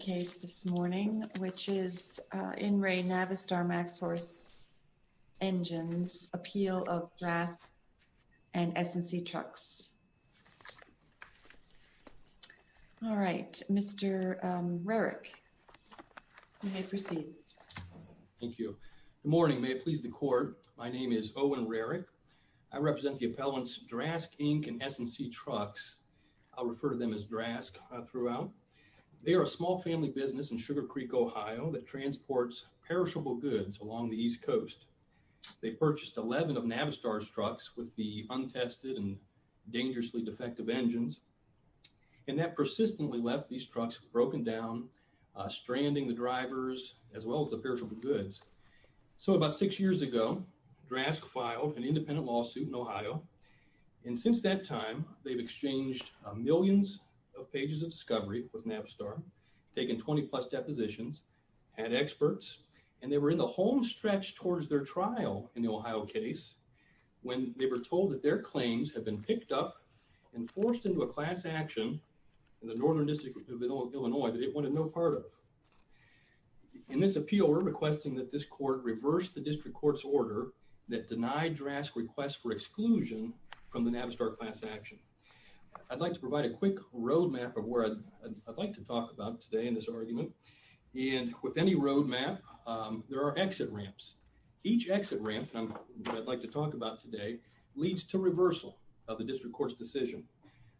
case this morning which is in Ray Navistar MaxForce engines appeal of draft and S&C trucks. All right Mr. Rarick you may proceed. Thank you. Good morning may it please the court my name is Owen Rarick I represent the appellants Drask Inc and S&C trucks. I'll refer to them as Drask throughout. They are a small family business in Sugar Creek Ohio that transports perishable goods along the East Coast. They purchased 11 of Navistar's trucks with the untested and dangerously defective engines and that persistently left these trucks broken down stranding the drivers as well as the perishable goods. So about six years ago Drask filed an independent lawsuit in Ohio and since that time they've exchanged millions of pages of discovery with Navistar, taken 20-plus depositions, had experts and they were in the home stretch towards their trial in the Ohio case when they were told that their claims have been picked up and forced into a class action in the northern district of Illinois that it wanted no part of. In this appeal we're requesting that this court reverse the district courts order that denied Drask request for exclusion from the Navistar class action. I'd like to provide a quick road map of where I'd like to talk about today in this argument and with any road map there are exit ramps. Each exit ramp I'd like to talk about today leads to reversal of the district courts decision.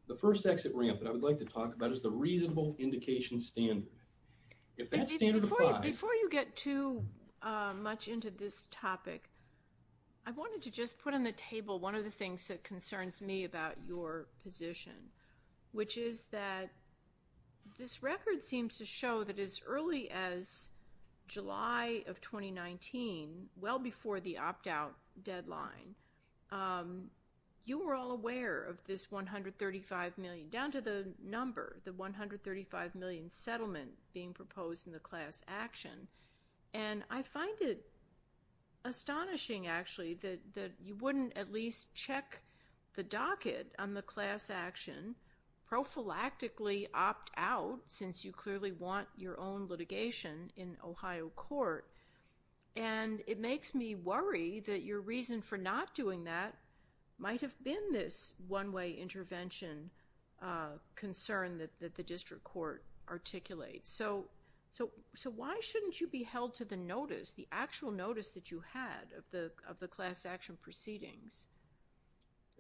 The first exit ramp that I would like to talk about is the reasonable indication standard. If that standard applies... Before you get too much into this about your position, which is that this record seems to show that as early as July of 2019, well before the opt-out deadline, you were all aware of this 135 million, down to the number, the 135 million settlement being proposed in the class action and I find it astonishing actually that you wouldn't at least check the docket on the class action prophylactically opt-out since you clearly want your own litigation in Ohio court and it makes me worry that your reason for not doing that might have been this one-way intervention concern that the district court articulates. So why shouldn't you be held to the notice, the actual notice that you had of the of the class action proceedings?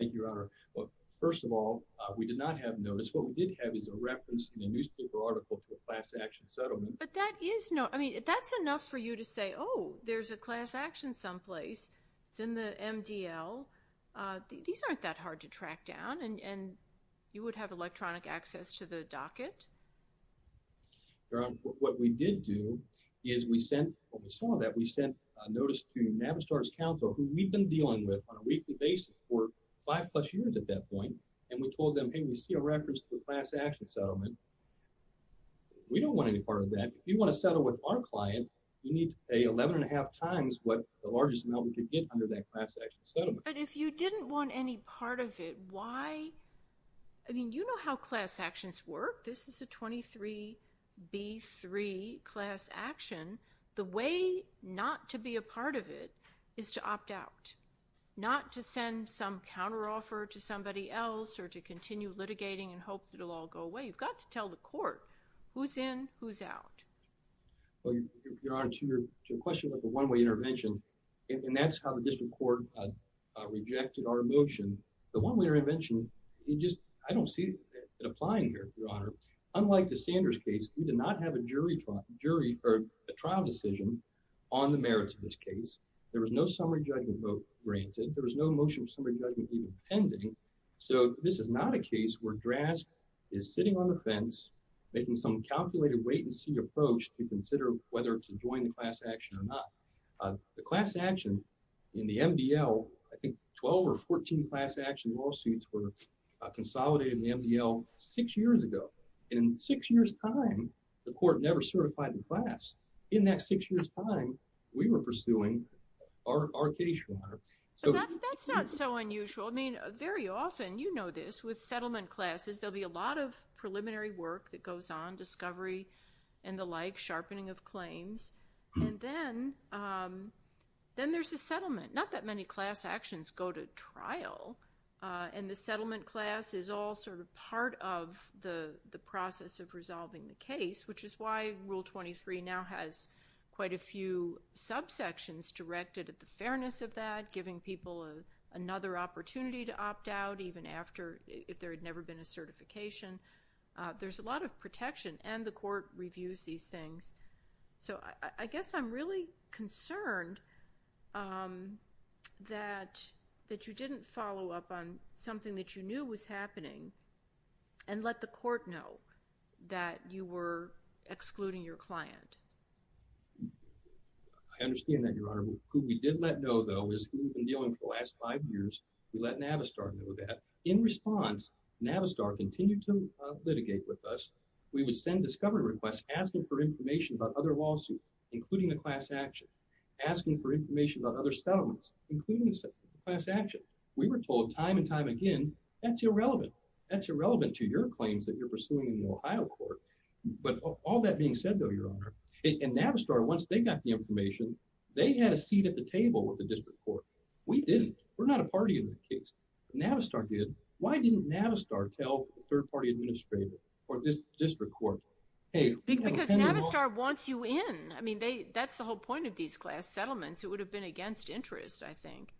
Thank you, Your Honor. Well, first of all, we did not have notice. What we did have is a reference in a newspaper article to a class action settlement. But that is not, I mean that's enough for you to say, oh there's a class action someplace. It's in the MDL. These aren't that hard to track down and you would have electronic access to the some of that we sent notice to Navistar's counsel who we've been dealing with on a weekly basis for five plus years at that point and we told them hey we see a reference to the class action settlement. We don't want any part of that. If you want to settle with our client, you need to pay eleven and a half times what the largest amount we could get under that class action settlement. But if you didn't want any part of it, why? I mean you know how class actions work. This is a 23b3 class action. The way not to be a part of it is to opt out. Not to send some counteroffer to somebody else or to continue litigating and hope that it'll all go away. You've got to tell the court who's in, who's out. Well, Your Honor, to your question about the one-way intervention, and that's how the district court rejected our motion. The one-way intervention, you just, I don't see it applying here, Your Honor. Unlike the Sanders case, we did not have a jury trial, jury, or a trial decision on the merits of this case. There was no summary judgment vote granted. There was no motion for summary judgment even pending. So this is not a case where DRASC is sitting on the fence making some calculated wait-and-see approach to consider whether to join the class action or not. The class action in the MDL, I think 12 or 14 class action lawsuits were consolidated in the MDL six years ago. In six years time, the court never certified the class. In that six years time, we were pursuing our case, Your Honor. So that's not so unusual. I mean very often, you know this, with settlement classes there'll be a lot of preliminary work that goes on, discovery and the like, sharpening of claims, and then then there's a settlement. Not that many class actions go to trial, and the settlement class is all sort of part of the process of resolving the case, which is why Rule 23 now has quite a few subsections directed at the fairness of that, giving people another opportunity to opt out even after, if there had never been a certification. There's a lot of protection, and the court reviews these things. So I guess I'm really concerned that that you didn't follow up on something that you knew was happening and let the court know that you were excluding your client. I understand that, Your Honor. Who we did let know, though, is we've been dealing for the last five years. We let Navistar know that. In response, Navistar continued to litigate with us. We would send discovery requests asking for information about other lawsuits, including the class action, asking for information about other settlements, including the class action. We were told time and time again, that's irrelevant. That's irrelevant to your claims that you're pursuing in the Ohio court. But all that being said, though, Your Honor, in Navistar, once they got the information, they had a seat at the table with the district court. We didn't. We're not a party in the case. Navistar did. Why didn't Navistar tell the third-party administrator or this district court? Because Navistar wants you in. I mean, that's the whole point of these class settlements. It would have been against interest, I think.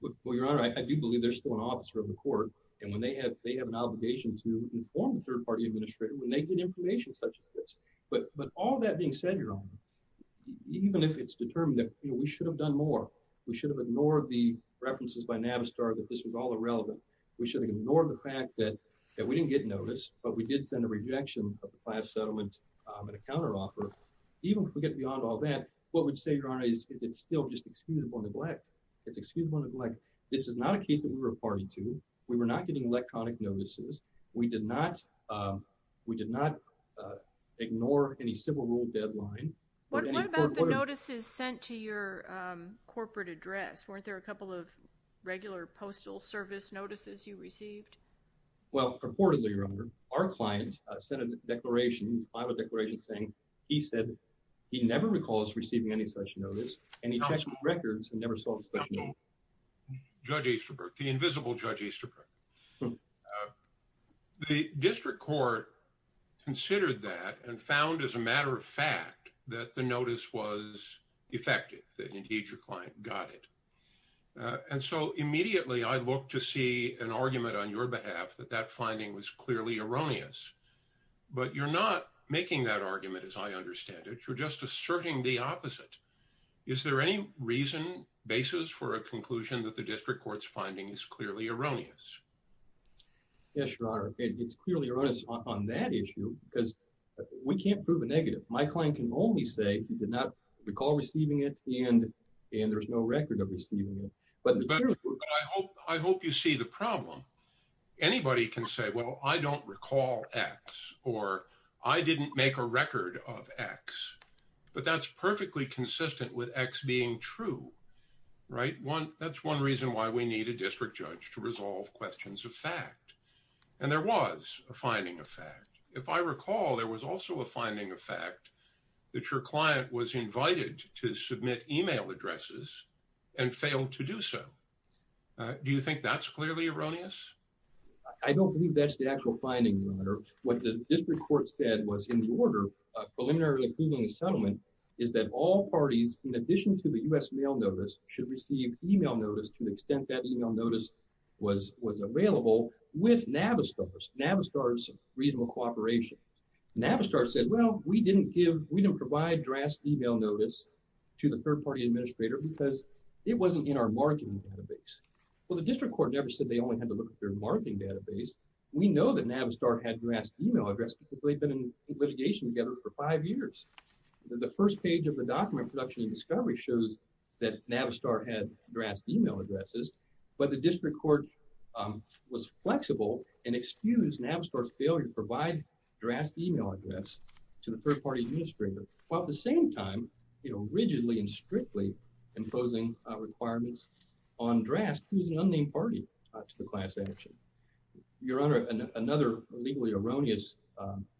Well, Your Honor, I do believe there's still an officer of the court, and when they have they have an obligation to inform the third-party administrator when they get information such as this. But all that being said, Your Honor, even if it's determined that we should have done more, we should have ignored the references by Navistar that this was all irrelevant. We should have ignored the fact that we didn't get notice, but we did send a rejection of the class settlement and a counter-offer. Even if we get beyond all that, what we'd say, Your Honor, is it's still just excusable neglect. It's excusable neglect. This is not a case that we were a party to. We were not getting electronic notices. We did not we did not ignore any civil rule deadline. What about the notices sent to your corporate address? Weren't there a couple of regular Postal Service notices you received? Well, purportedly, Your Honor, our client sent a declaration, a final declaration, saying he said he never recalls receiving any such notice, and he checked the records and never saw the notice. Judge Easterberg, the invisible Judge Easterberg. The district court considered that and found, as a matter of fact, that the notice was defective, that indeed your client got it. And so immediately, I looked to see an argument on your behalf that that finding was clearly erroneous. But you're not making that argument, as I understand it. You're just asserting the opposite. Is there any reason, basis for a conclusion that the district court's finding is clearly erroneous? Yes, Your Honor. It's clearly erroneous on that issue because we can't prove a negative. My client can only say he did not recall receiving it, and there's no record of receiving it. But I hope I hope you see the problem. Anybody can say, Well, I don't recall X or I didn't make a record of X. But that's perfectly consistent with X being true, right? That's one reason why we need a district judge to resolve questions of fact. And there was a finding of fact. If I recall, there was also a finding of fact that your client was invited to submit email addresses and failed to do so. Do you think that's clearly erroneous? I don't believe that's the actual finding. What the district court said was in the order preliminary approving the settlement is that all parties, in addition to the U. S. Mail notice, should receive email notice to the extent that email notice was was available with Navistar's Navistar's reasonable cooperation. Navistar said, Well, we didn't give. We don't provide drastic email notice to the third party administrator because it wasn't in our marketing database. Well, the district court never said they only had to look at their marketing database. We know that Navistar had drastic email address, but they've been in litigation together for five years. The first page of the document production and discovery shows that Navistar had drastic email addresses. But the district court, um, was flexible and excused Navistar's failure to provide drastic email address to the third party administrator, while at the strictly imposing requirements on dress. Who's an unnamed party to the class action? Your Honor, another legally erroneous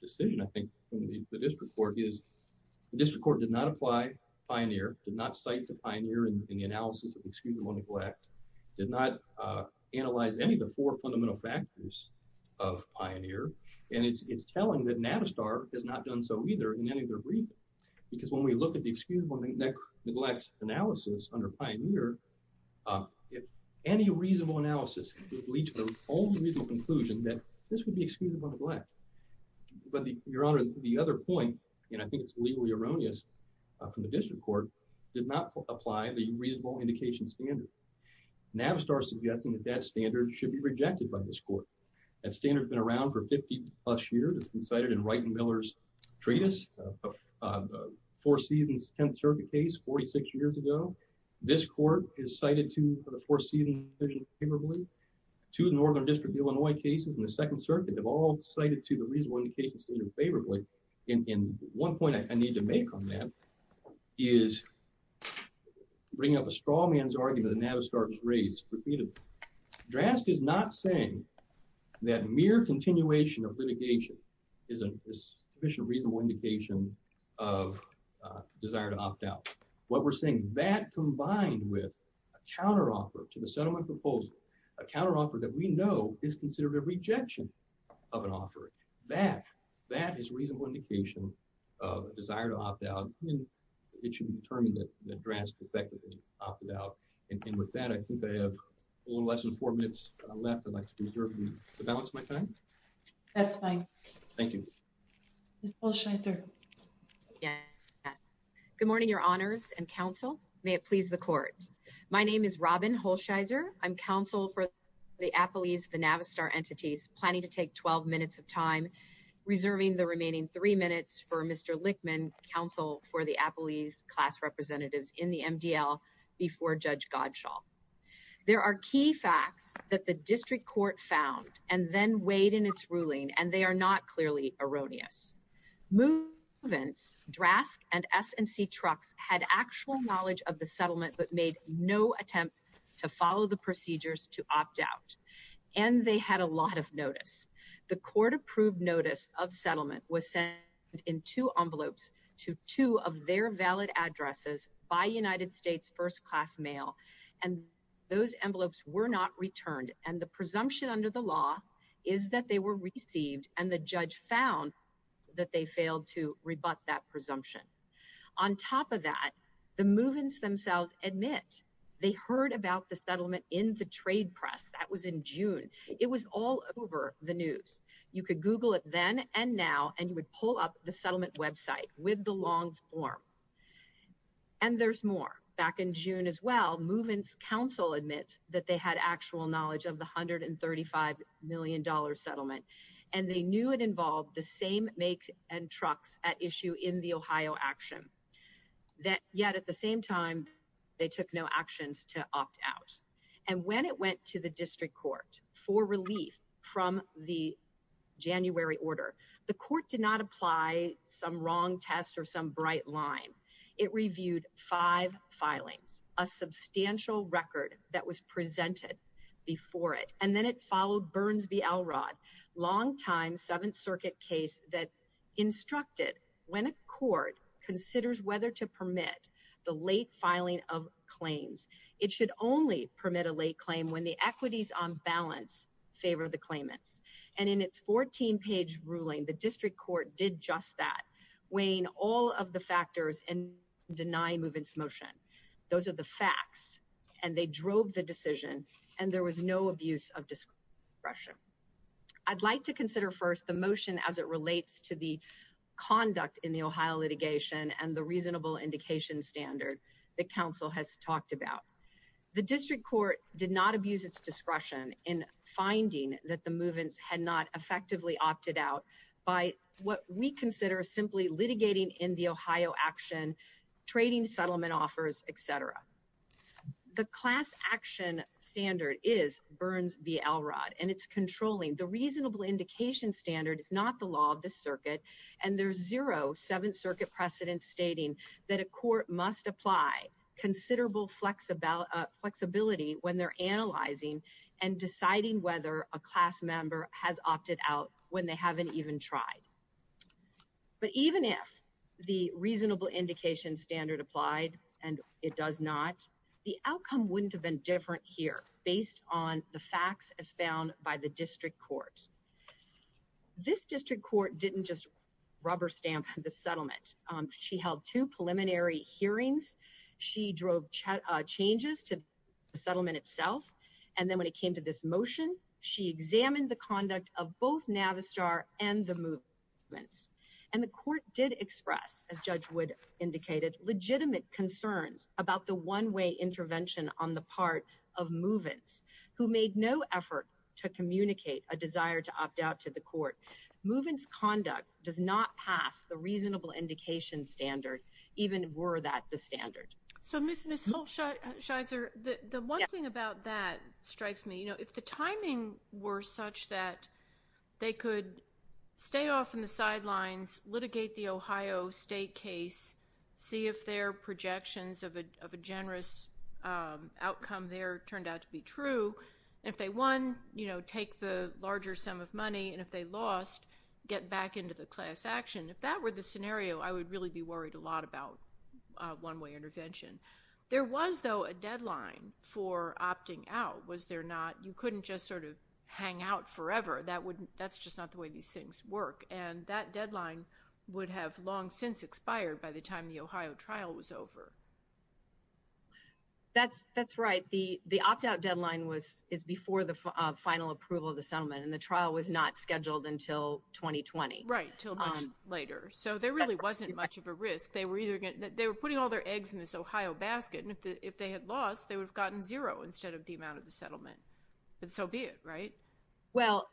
decision. I think the district court is the district court did not apply. Pioneer did not cite the pioneer in the analysis of excuse. One neglect did not analyze any of the four fundamental factors of pioneer, and it's telling that Navistar has not done so either in any of their brief, because when we look at the excuse one neglect analysis under pioneer, uh, if any reasonable analysis would lead to the only legal conclusion that this would be excusable neglect. But your Honor, the other point, and I think it's legally erroneous from the district court did not apply the reasonable indication standard. Navistar suggesting that that standard should be rejected by this court. That standard has been around for 50 plus years. It's been cited in right and Miller's treatise. Uh, four seasons 10th Circuit case 46 years ago. This court is cited to the four season vision favorably to the Northern District Illinois cases in the Second Circuit. They've all cited to the reasonable indication standard favorably. And one point I need to make on that is bringing up a straw man's argument. Navistar was raised repeated. Drast is not saying that mere continuation of litigation isn't this efficient, reasonable indication of desire to opt out what we're saying that combined with a counteroffer to the settlement proposal, a counteroffer that we know is considered a rejection of an offer that that is reasonable indication of desire to opt out. It should be determined that the dress effectively opted out. And with that, I think they have less than four minutes left. I'd Thank you. Thank you. Thank you. Thank you. Thank you. Thank you. Thank you. Thank you. Thank you. Thank you. Thank you. Good morning, your honors and counsel. May it please the court. My name is Robin Holshizer. I'm counsel for the Apple. He's the Navistar entities planning to take 12 minutes of time reserving the remaining three minutes for Mr. Lichtman counsel for the Apple. He's class representatives in the MDL before Judge Godshaw. There are key facts that the district court found and then weighed in its ruling and they are not clearly erroneous. Movements Drask and S and C trucks had actual knowledge of the settlement but made no attempt to follow the procedures to opt out and they had a lot of notice. The court approved notice of settlement was sent in two envelopes to two of their valid addresses by United States first-class mail and those envelopes were not returned and the presumption under the law is that they were received and the judge found that they failed to rebut that presumption on top of that the movements themselves admit they heard about the settlement in the trade press that was in June. It was all over the news. You could Google it then and now and you would pull up the settlement website with the long form. And there's more back in June as well movements counsel admits that they had actual knowledge of the hundred and thirty-five million dollar settlement and they knew it involved the same make and trucks at issue in the Ohio action that yet at the same time they took no actions to Opt out and when it went to the district court for relief from the January order the court did not apply some wrong test or some bright line. It reviewed five filings a substantial record that was presented before it and then it followed Burns v. Elrod longtime Seventh Circuit case that instructed when a court considers whether to permit the late filing of claims. It should only permit a late claim when the equities on balance favor the claimants and in its 14 page ruling the district court did just that weighing all of the factors and deny movements motion. Those are the facts and they drove the decision and there was no abuse of discretion. I'd like to consider first the motion as it is a reasonable indication standard the council has talked about the district court did not abuse its discretion in finding that the movements had not effectively opted out by what we consider simply litigating in the Ohio action trading settlement offers Etc. The class action standard is Burns v. Elrod and it's controlling the reasonable indication standard is not the law of the circuit and there's 07 circuit precedent stating that a court must apply considerable flex about flexibility when they're analyzing and deciding whether a class member has opted out when they haven't even tried. But even if the reasonable indication standard applied and it does not the outcome wouldn't have been different here based on the facts as found by the district court didn't just rubber stamp the settlement. She held two preliminary hearings. She drove chat changes to the settlement itself. And then when it came to this motion, she examined the conduct of both Navistar and the movements and the court did express as judge would indicated legitimate concerns about the one-way intervention on the part of movements who made no effort to communicate a desire to opt out to the court movements conduct does not pass the reasonable indication standard even were that the standard. So miss miss Hulshizer the one thing about that strikes me, you know, if the timing were such that they could stay off in the sidelines litigate the Ohio state case see if their projections of a generous outcome there turned out to be true. If they won, you know, take the larger sum of money and if they lost get back into the class action. If that were the scenario, I would really be worried a lot about one-way intervention. There was though a deadline for opting out was there not you couldn't just sort of hang out forever. That would that's just not the way these things work and that deadline would have long since expired by the time the Ohio trial was over. That's that's right. The the opt-out deadline was is before the final approval of the settlement and the trial was not scheduled until 2020 right till later. So there really wasn't much of a risk. They were either getting that they were putting all their eggs in this Ohio basket. And if they had lost they would have gotten zero instead of the amount of the settlement and so be it right well,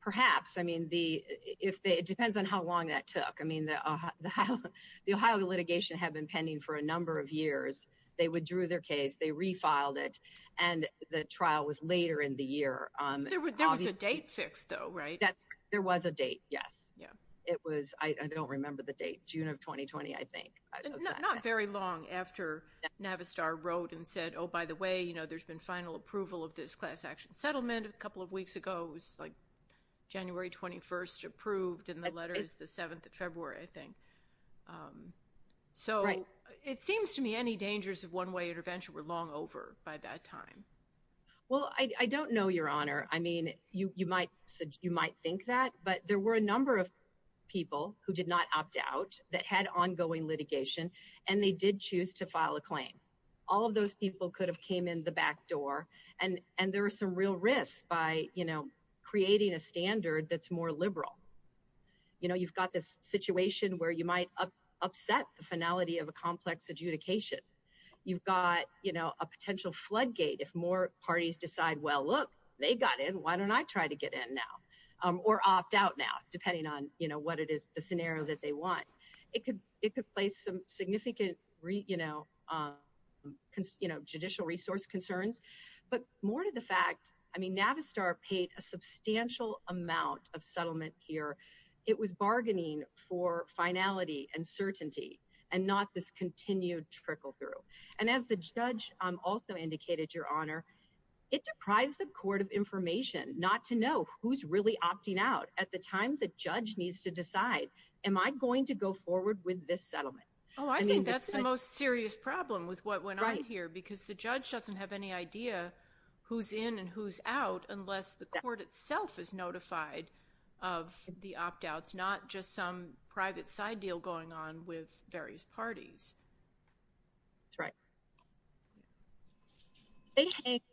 perhaps I mean the if they depends on how long that took. I mean the Ohio the Ohio litigation have been pending for a number of years. They withdrew their case. They refiled it and the trial was later in the year. There was a date fixed though, right? That there was a date. Yes. Yeah, it was I don't remember the date June of 2020. I think not very long after Navistar wrote and said, oh by the way, you know, there's been final approval of this class action settlement a couple of weeks ago was like January 21st approved in the letters the 7th of February. I think so, it seems to me any dangers of one-way intervention were long over by that time. Well, I don't know your honor. I mean you might you might think that but there were a number of people who did not opt out that had ongoing litigation and they did choose to file a claim all of those people could have came in the back door and and there are some real risks by you know, creating a standard that's more liberal. You know, you've got this situation where you might upset the finality of a complex adjudication. You've got, you know, a potential floodgate if more parties decide. Well, look they got in. Why don't I try to get in now or opt out now depending on you know, what it is the scenario that they want it could it could play some significant, you know, you know judicial resource concerns but more to the fact I mean Navistar paid a substantial amount of settlement here. It was bargaining for finality and certainty and not this continued trickle-through and as the judge also indicated your honor it deprives the court of information not to know who's really opting out at the time. The judge needs to decide am I going to go forward with this settlement? Oh, I mean, that's the most serious problem with what when I hear because the judge doesn't have any idea who's in and who's out unless the court itself is notified of the opt-outs not just some private side deal going on with various parties. That's right.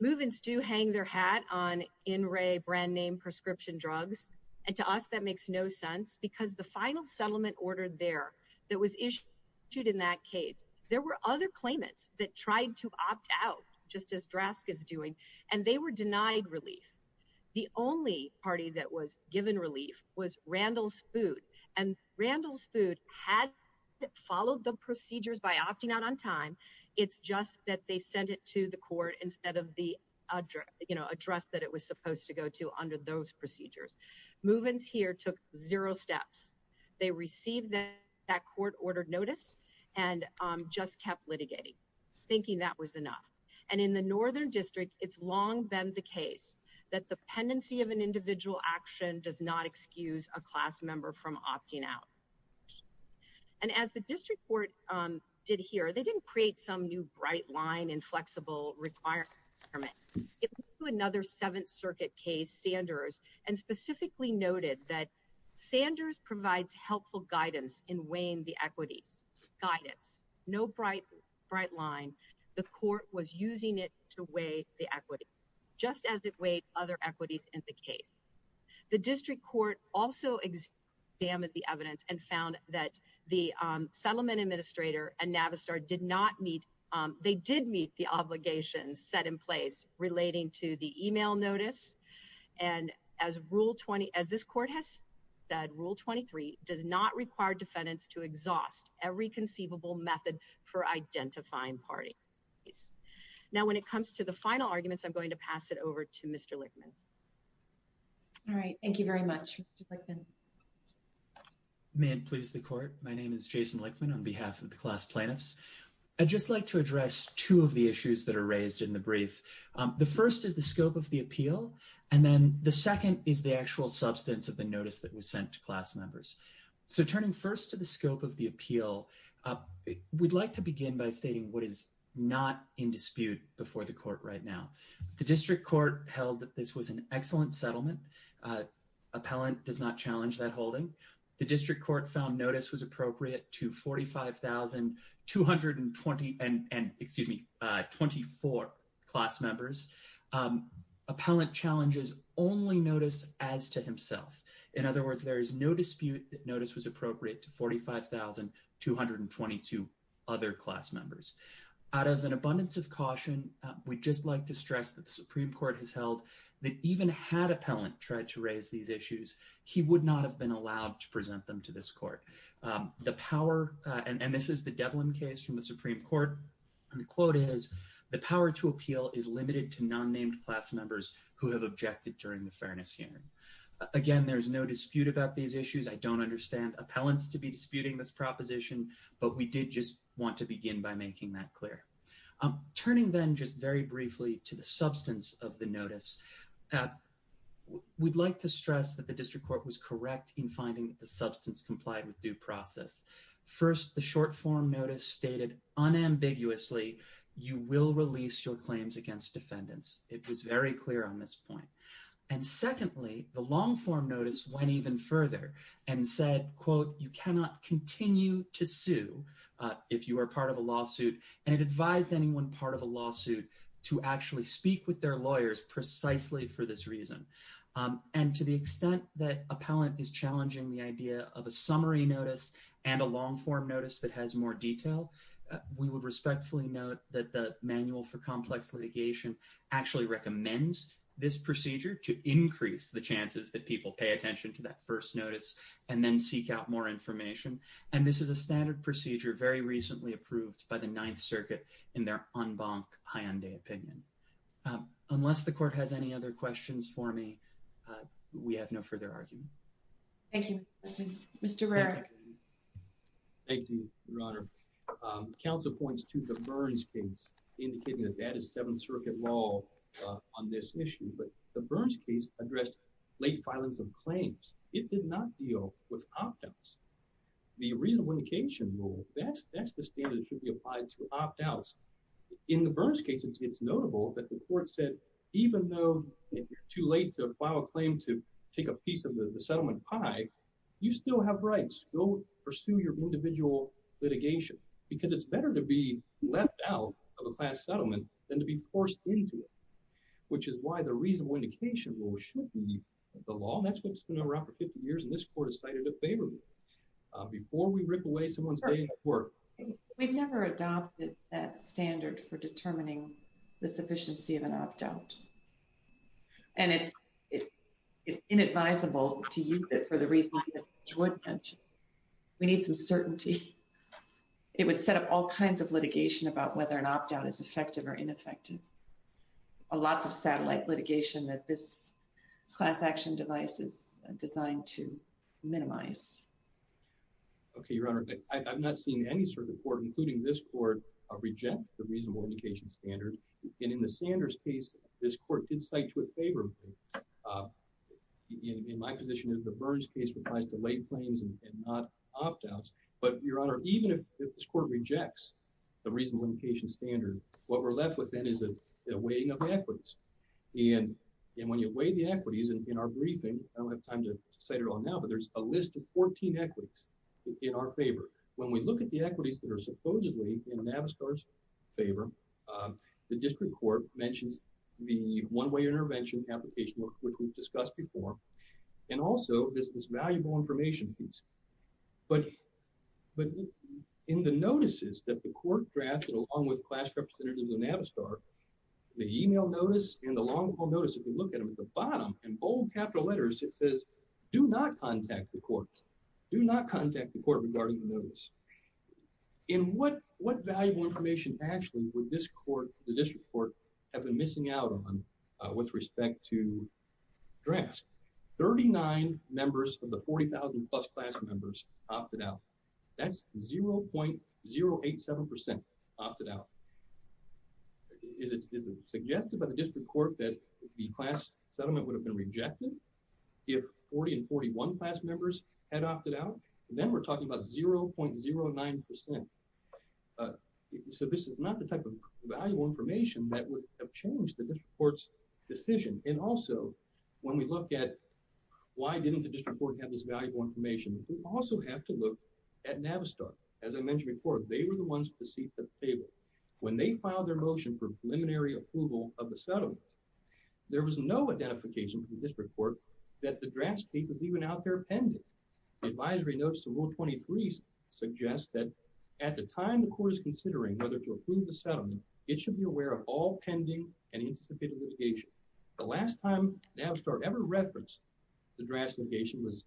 Move-ins do hang their hat on in Ray brand-name prescription drugs and to us that makes no sense because the final settlement ordered there that was issued in that case. There were other claimants that tried to opt out just as drastic as doing and they were denied relief. The only party that was given relief was Randall's food and Randall's food had followed the procedures by opting out on time. It's just that they sent it to the court instead of the address that it was supposed to go to under those procedures move-ins here took zero steps. They received that court-ordered notice and just kept litigating thinking that was enough and in the northern district. It's long been the case that the pendency of an individual action does not excuse a class member from opting out and as the district court did here. They didn't create some new bright line and flexible require another 7th Circuit case Sanders and specifically noted that Sanders provides helpful guidance in weighing the equities guidance. No bright bright line. The court was using it to weigh the equity just as it weighed other equities in the case. The district court also exam at the evidence and found that the settlement administrator and Navistar did not meet. They did meet the obligations set in place relating to the email notice and as rule 20 as this court has that rule 23 does not require defendants to exhaust every conceivable method for identifying party. Now when it comes to the final arguments, I'm going to pass it over to Mr. Lickman. Thank you very much. Please the court. My name is Jason Lickman on behalf of the class plaintiffs. I just like to address two of the issues that are raised in the brief. The first is the scope of the appeal and then the second is the actual substance of the notice that was sent to class members. So turning first to the scope of the appeal. We'd like to begin by stating what is not in dispute before the court right now. The district court held that this was an excellent settlement appellant does not challenge that holding the district court found notice was 224 class members. Appellant challenges only notice as to himself. In other words, there is no dispute that notice was appropriate to 45,000 222 other class members out of an abundance of caution. We just like to stress that the Supreme Court has held that even had appellant tried to raise these issues. He would not have been allowed to present them to this court. The power and this is the Devlin case from the Supreme Court and the quote is the power to appeal is limited to non-named class members who have objected during the fairness hearing. Again, there's no dispute about these issues. I don't understand appellants to be disputing this proposition, but we did just want to begin by making that clear. I'm turning then just very briefly to the substance of the notice. We'd like to stress that the district court was correct in finding the process first, the short-form notice stated unambiguously, you will release your claims against defendants. It was very clear on this point and secondly, the long-form notice went even further and said quote, you cannot continue to sue if you are part of a lawsuit and advised anyone part of a lawsuit to actually speak with their lawyers precisely for this reason and to the extent that appellant is challenging the idea of a summary notice and a long-form notice that has more detail, we would respectfully note that the manual for complex litigation actually recommends this procedure to increase the chances that people pay attention to that first notice and then seek out more information and this is a standard procedure very recently approved by the Ninth Circuit in their en banc high-end opinion. Unless the court has any other questions for me, we have no further argument. Thank you. Mr. Rarick. Thank you, Your Honor. Counsel points to the Burns case indicating that that is Seventh Circuit law on this issue, but the Burns case addressed late filings of claims. It did not deal with opt-outs. The reasonable indication rule, that's the standard that should be applied to opt-outs. In the Burns case, it's notable that the court said even though if you're too late to file a claim to take a piece of the settlement pie, you still have rights. Go pursue your individual litigation because it's better to be left out of a class settlement than to be forced into it, which is why the reasonable indication rule should be the law and that's what's been around for 50 years and this court has cited it favorably. Before we rip away someone's day at work. We've never adopted that standard for determining the sufficiency of an opt-out. It's inadvisable to use it for the reasons that you would mention. We need some certainty. It would set up all kinds of litigation about whether an opt-out is effective or ineffective. Lots of satellite litigation that this class action device is designed to minimize. Okay, Your Honor, I've not seen any circuit court, including this court, reject the reasonable indication standard and in the Sanders case, this case applies to late claims and not opt-outs, but Your Honor, even if this court rejects the reasonable indication standard, what we're left with then is a weighing of the equities and when you weigh the equities in our briefing, I don't have time to cite it all now, but there's a list of 14 equities in our favor. When we look at the equities that are supposedly in Navistar's favor, the one-way intervention application, which we've discussed before, and also this valuable information piece, but in the notices that the court drafted along with class representatives in Navistar, the email notice and the long-haul notice, if you look at them at the bottom, in bold capital letters, it says, do not contact the court. Do not contact the court regarding the notice. In what valuable information actually would this court, the district court, have been missing out on with respect to drafts? 39 members of the 40,000-plus class members opted out. That's 0.087% opted out. Is it suggested by the district court that the class settlement would have been rejected if 40 and 41 class members had opted out? Then we're talking about 0.09%. So this is not the type of valuable information that would have changed the district court's decision. And also, when we look at why didn't the district court have this valuable information, we also have to look at Navistar. As I mentioned before, they were the ones to seat at the table. When they filed their motion for preliminary approval of the settlement, there was no identification from the district court that the draft state was even out there pending. The advisory notes to Rule 23 suggest that at the time the court is considering whether to approve the settlement, it should be aware of all pending and anticipated litigation. The last time Navistar ever referenced the draft litigation was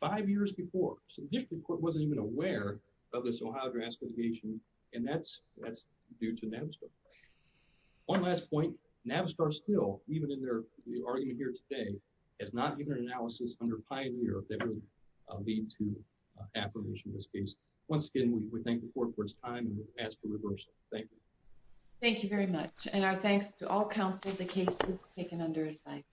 five years before. So the district court wasn't even aware of this Ohio draft litigation, and that's due to Navistar. One last point, Navistar still, even in their argument here today, has not given an analysis under Pioneer that would lead to approval of this case. Once again, we thank the court for its time, and we ask for reversal. Thank you. Thank you very much, and our thanks to all counsels. The case is taken under advice.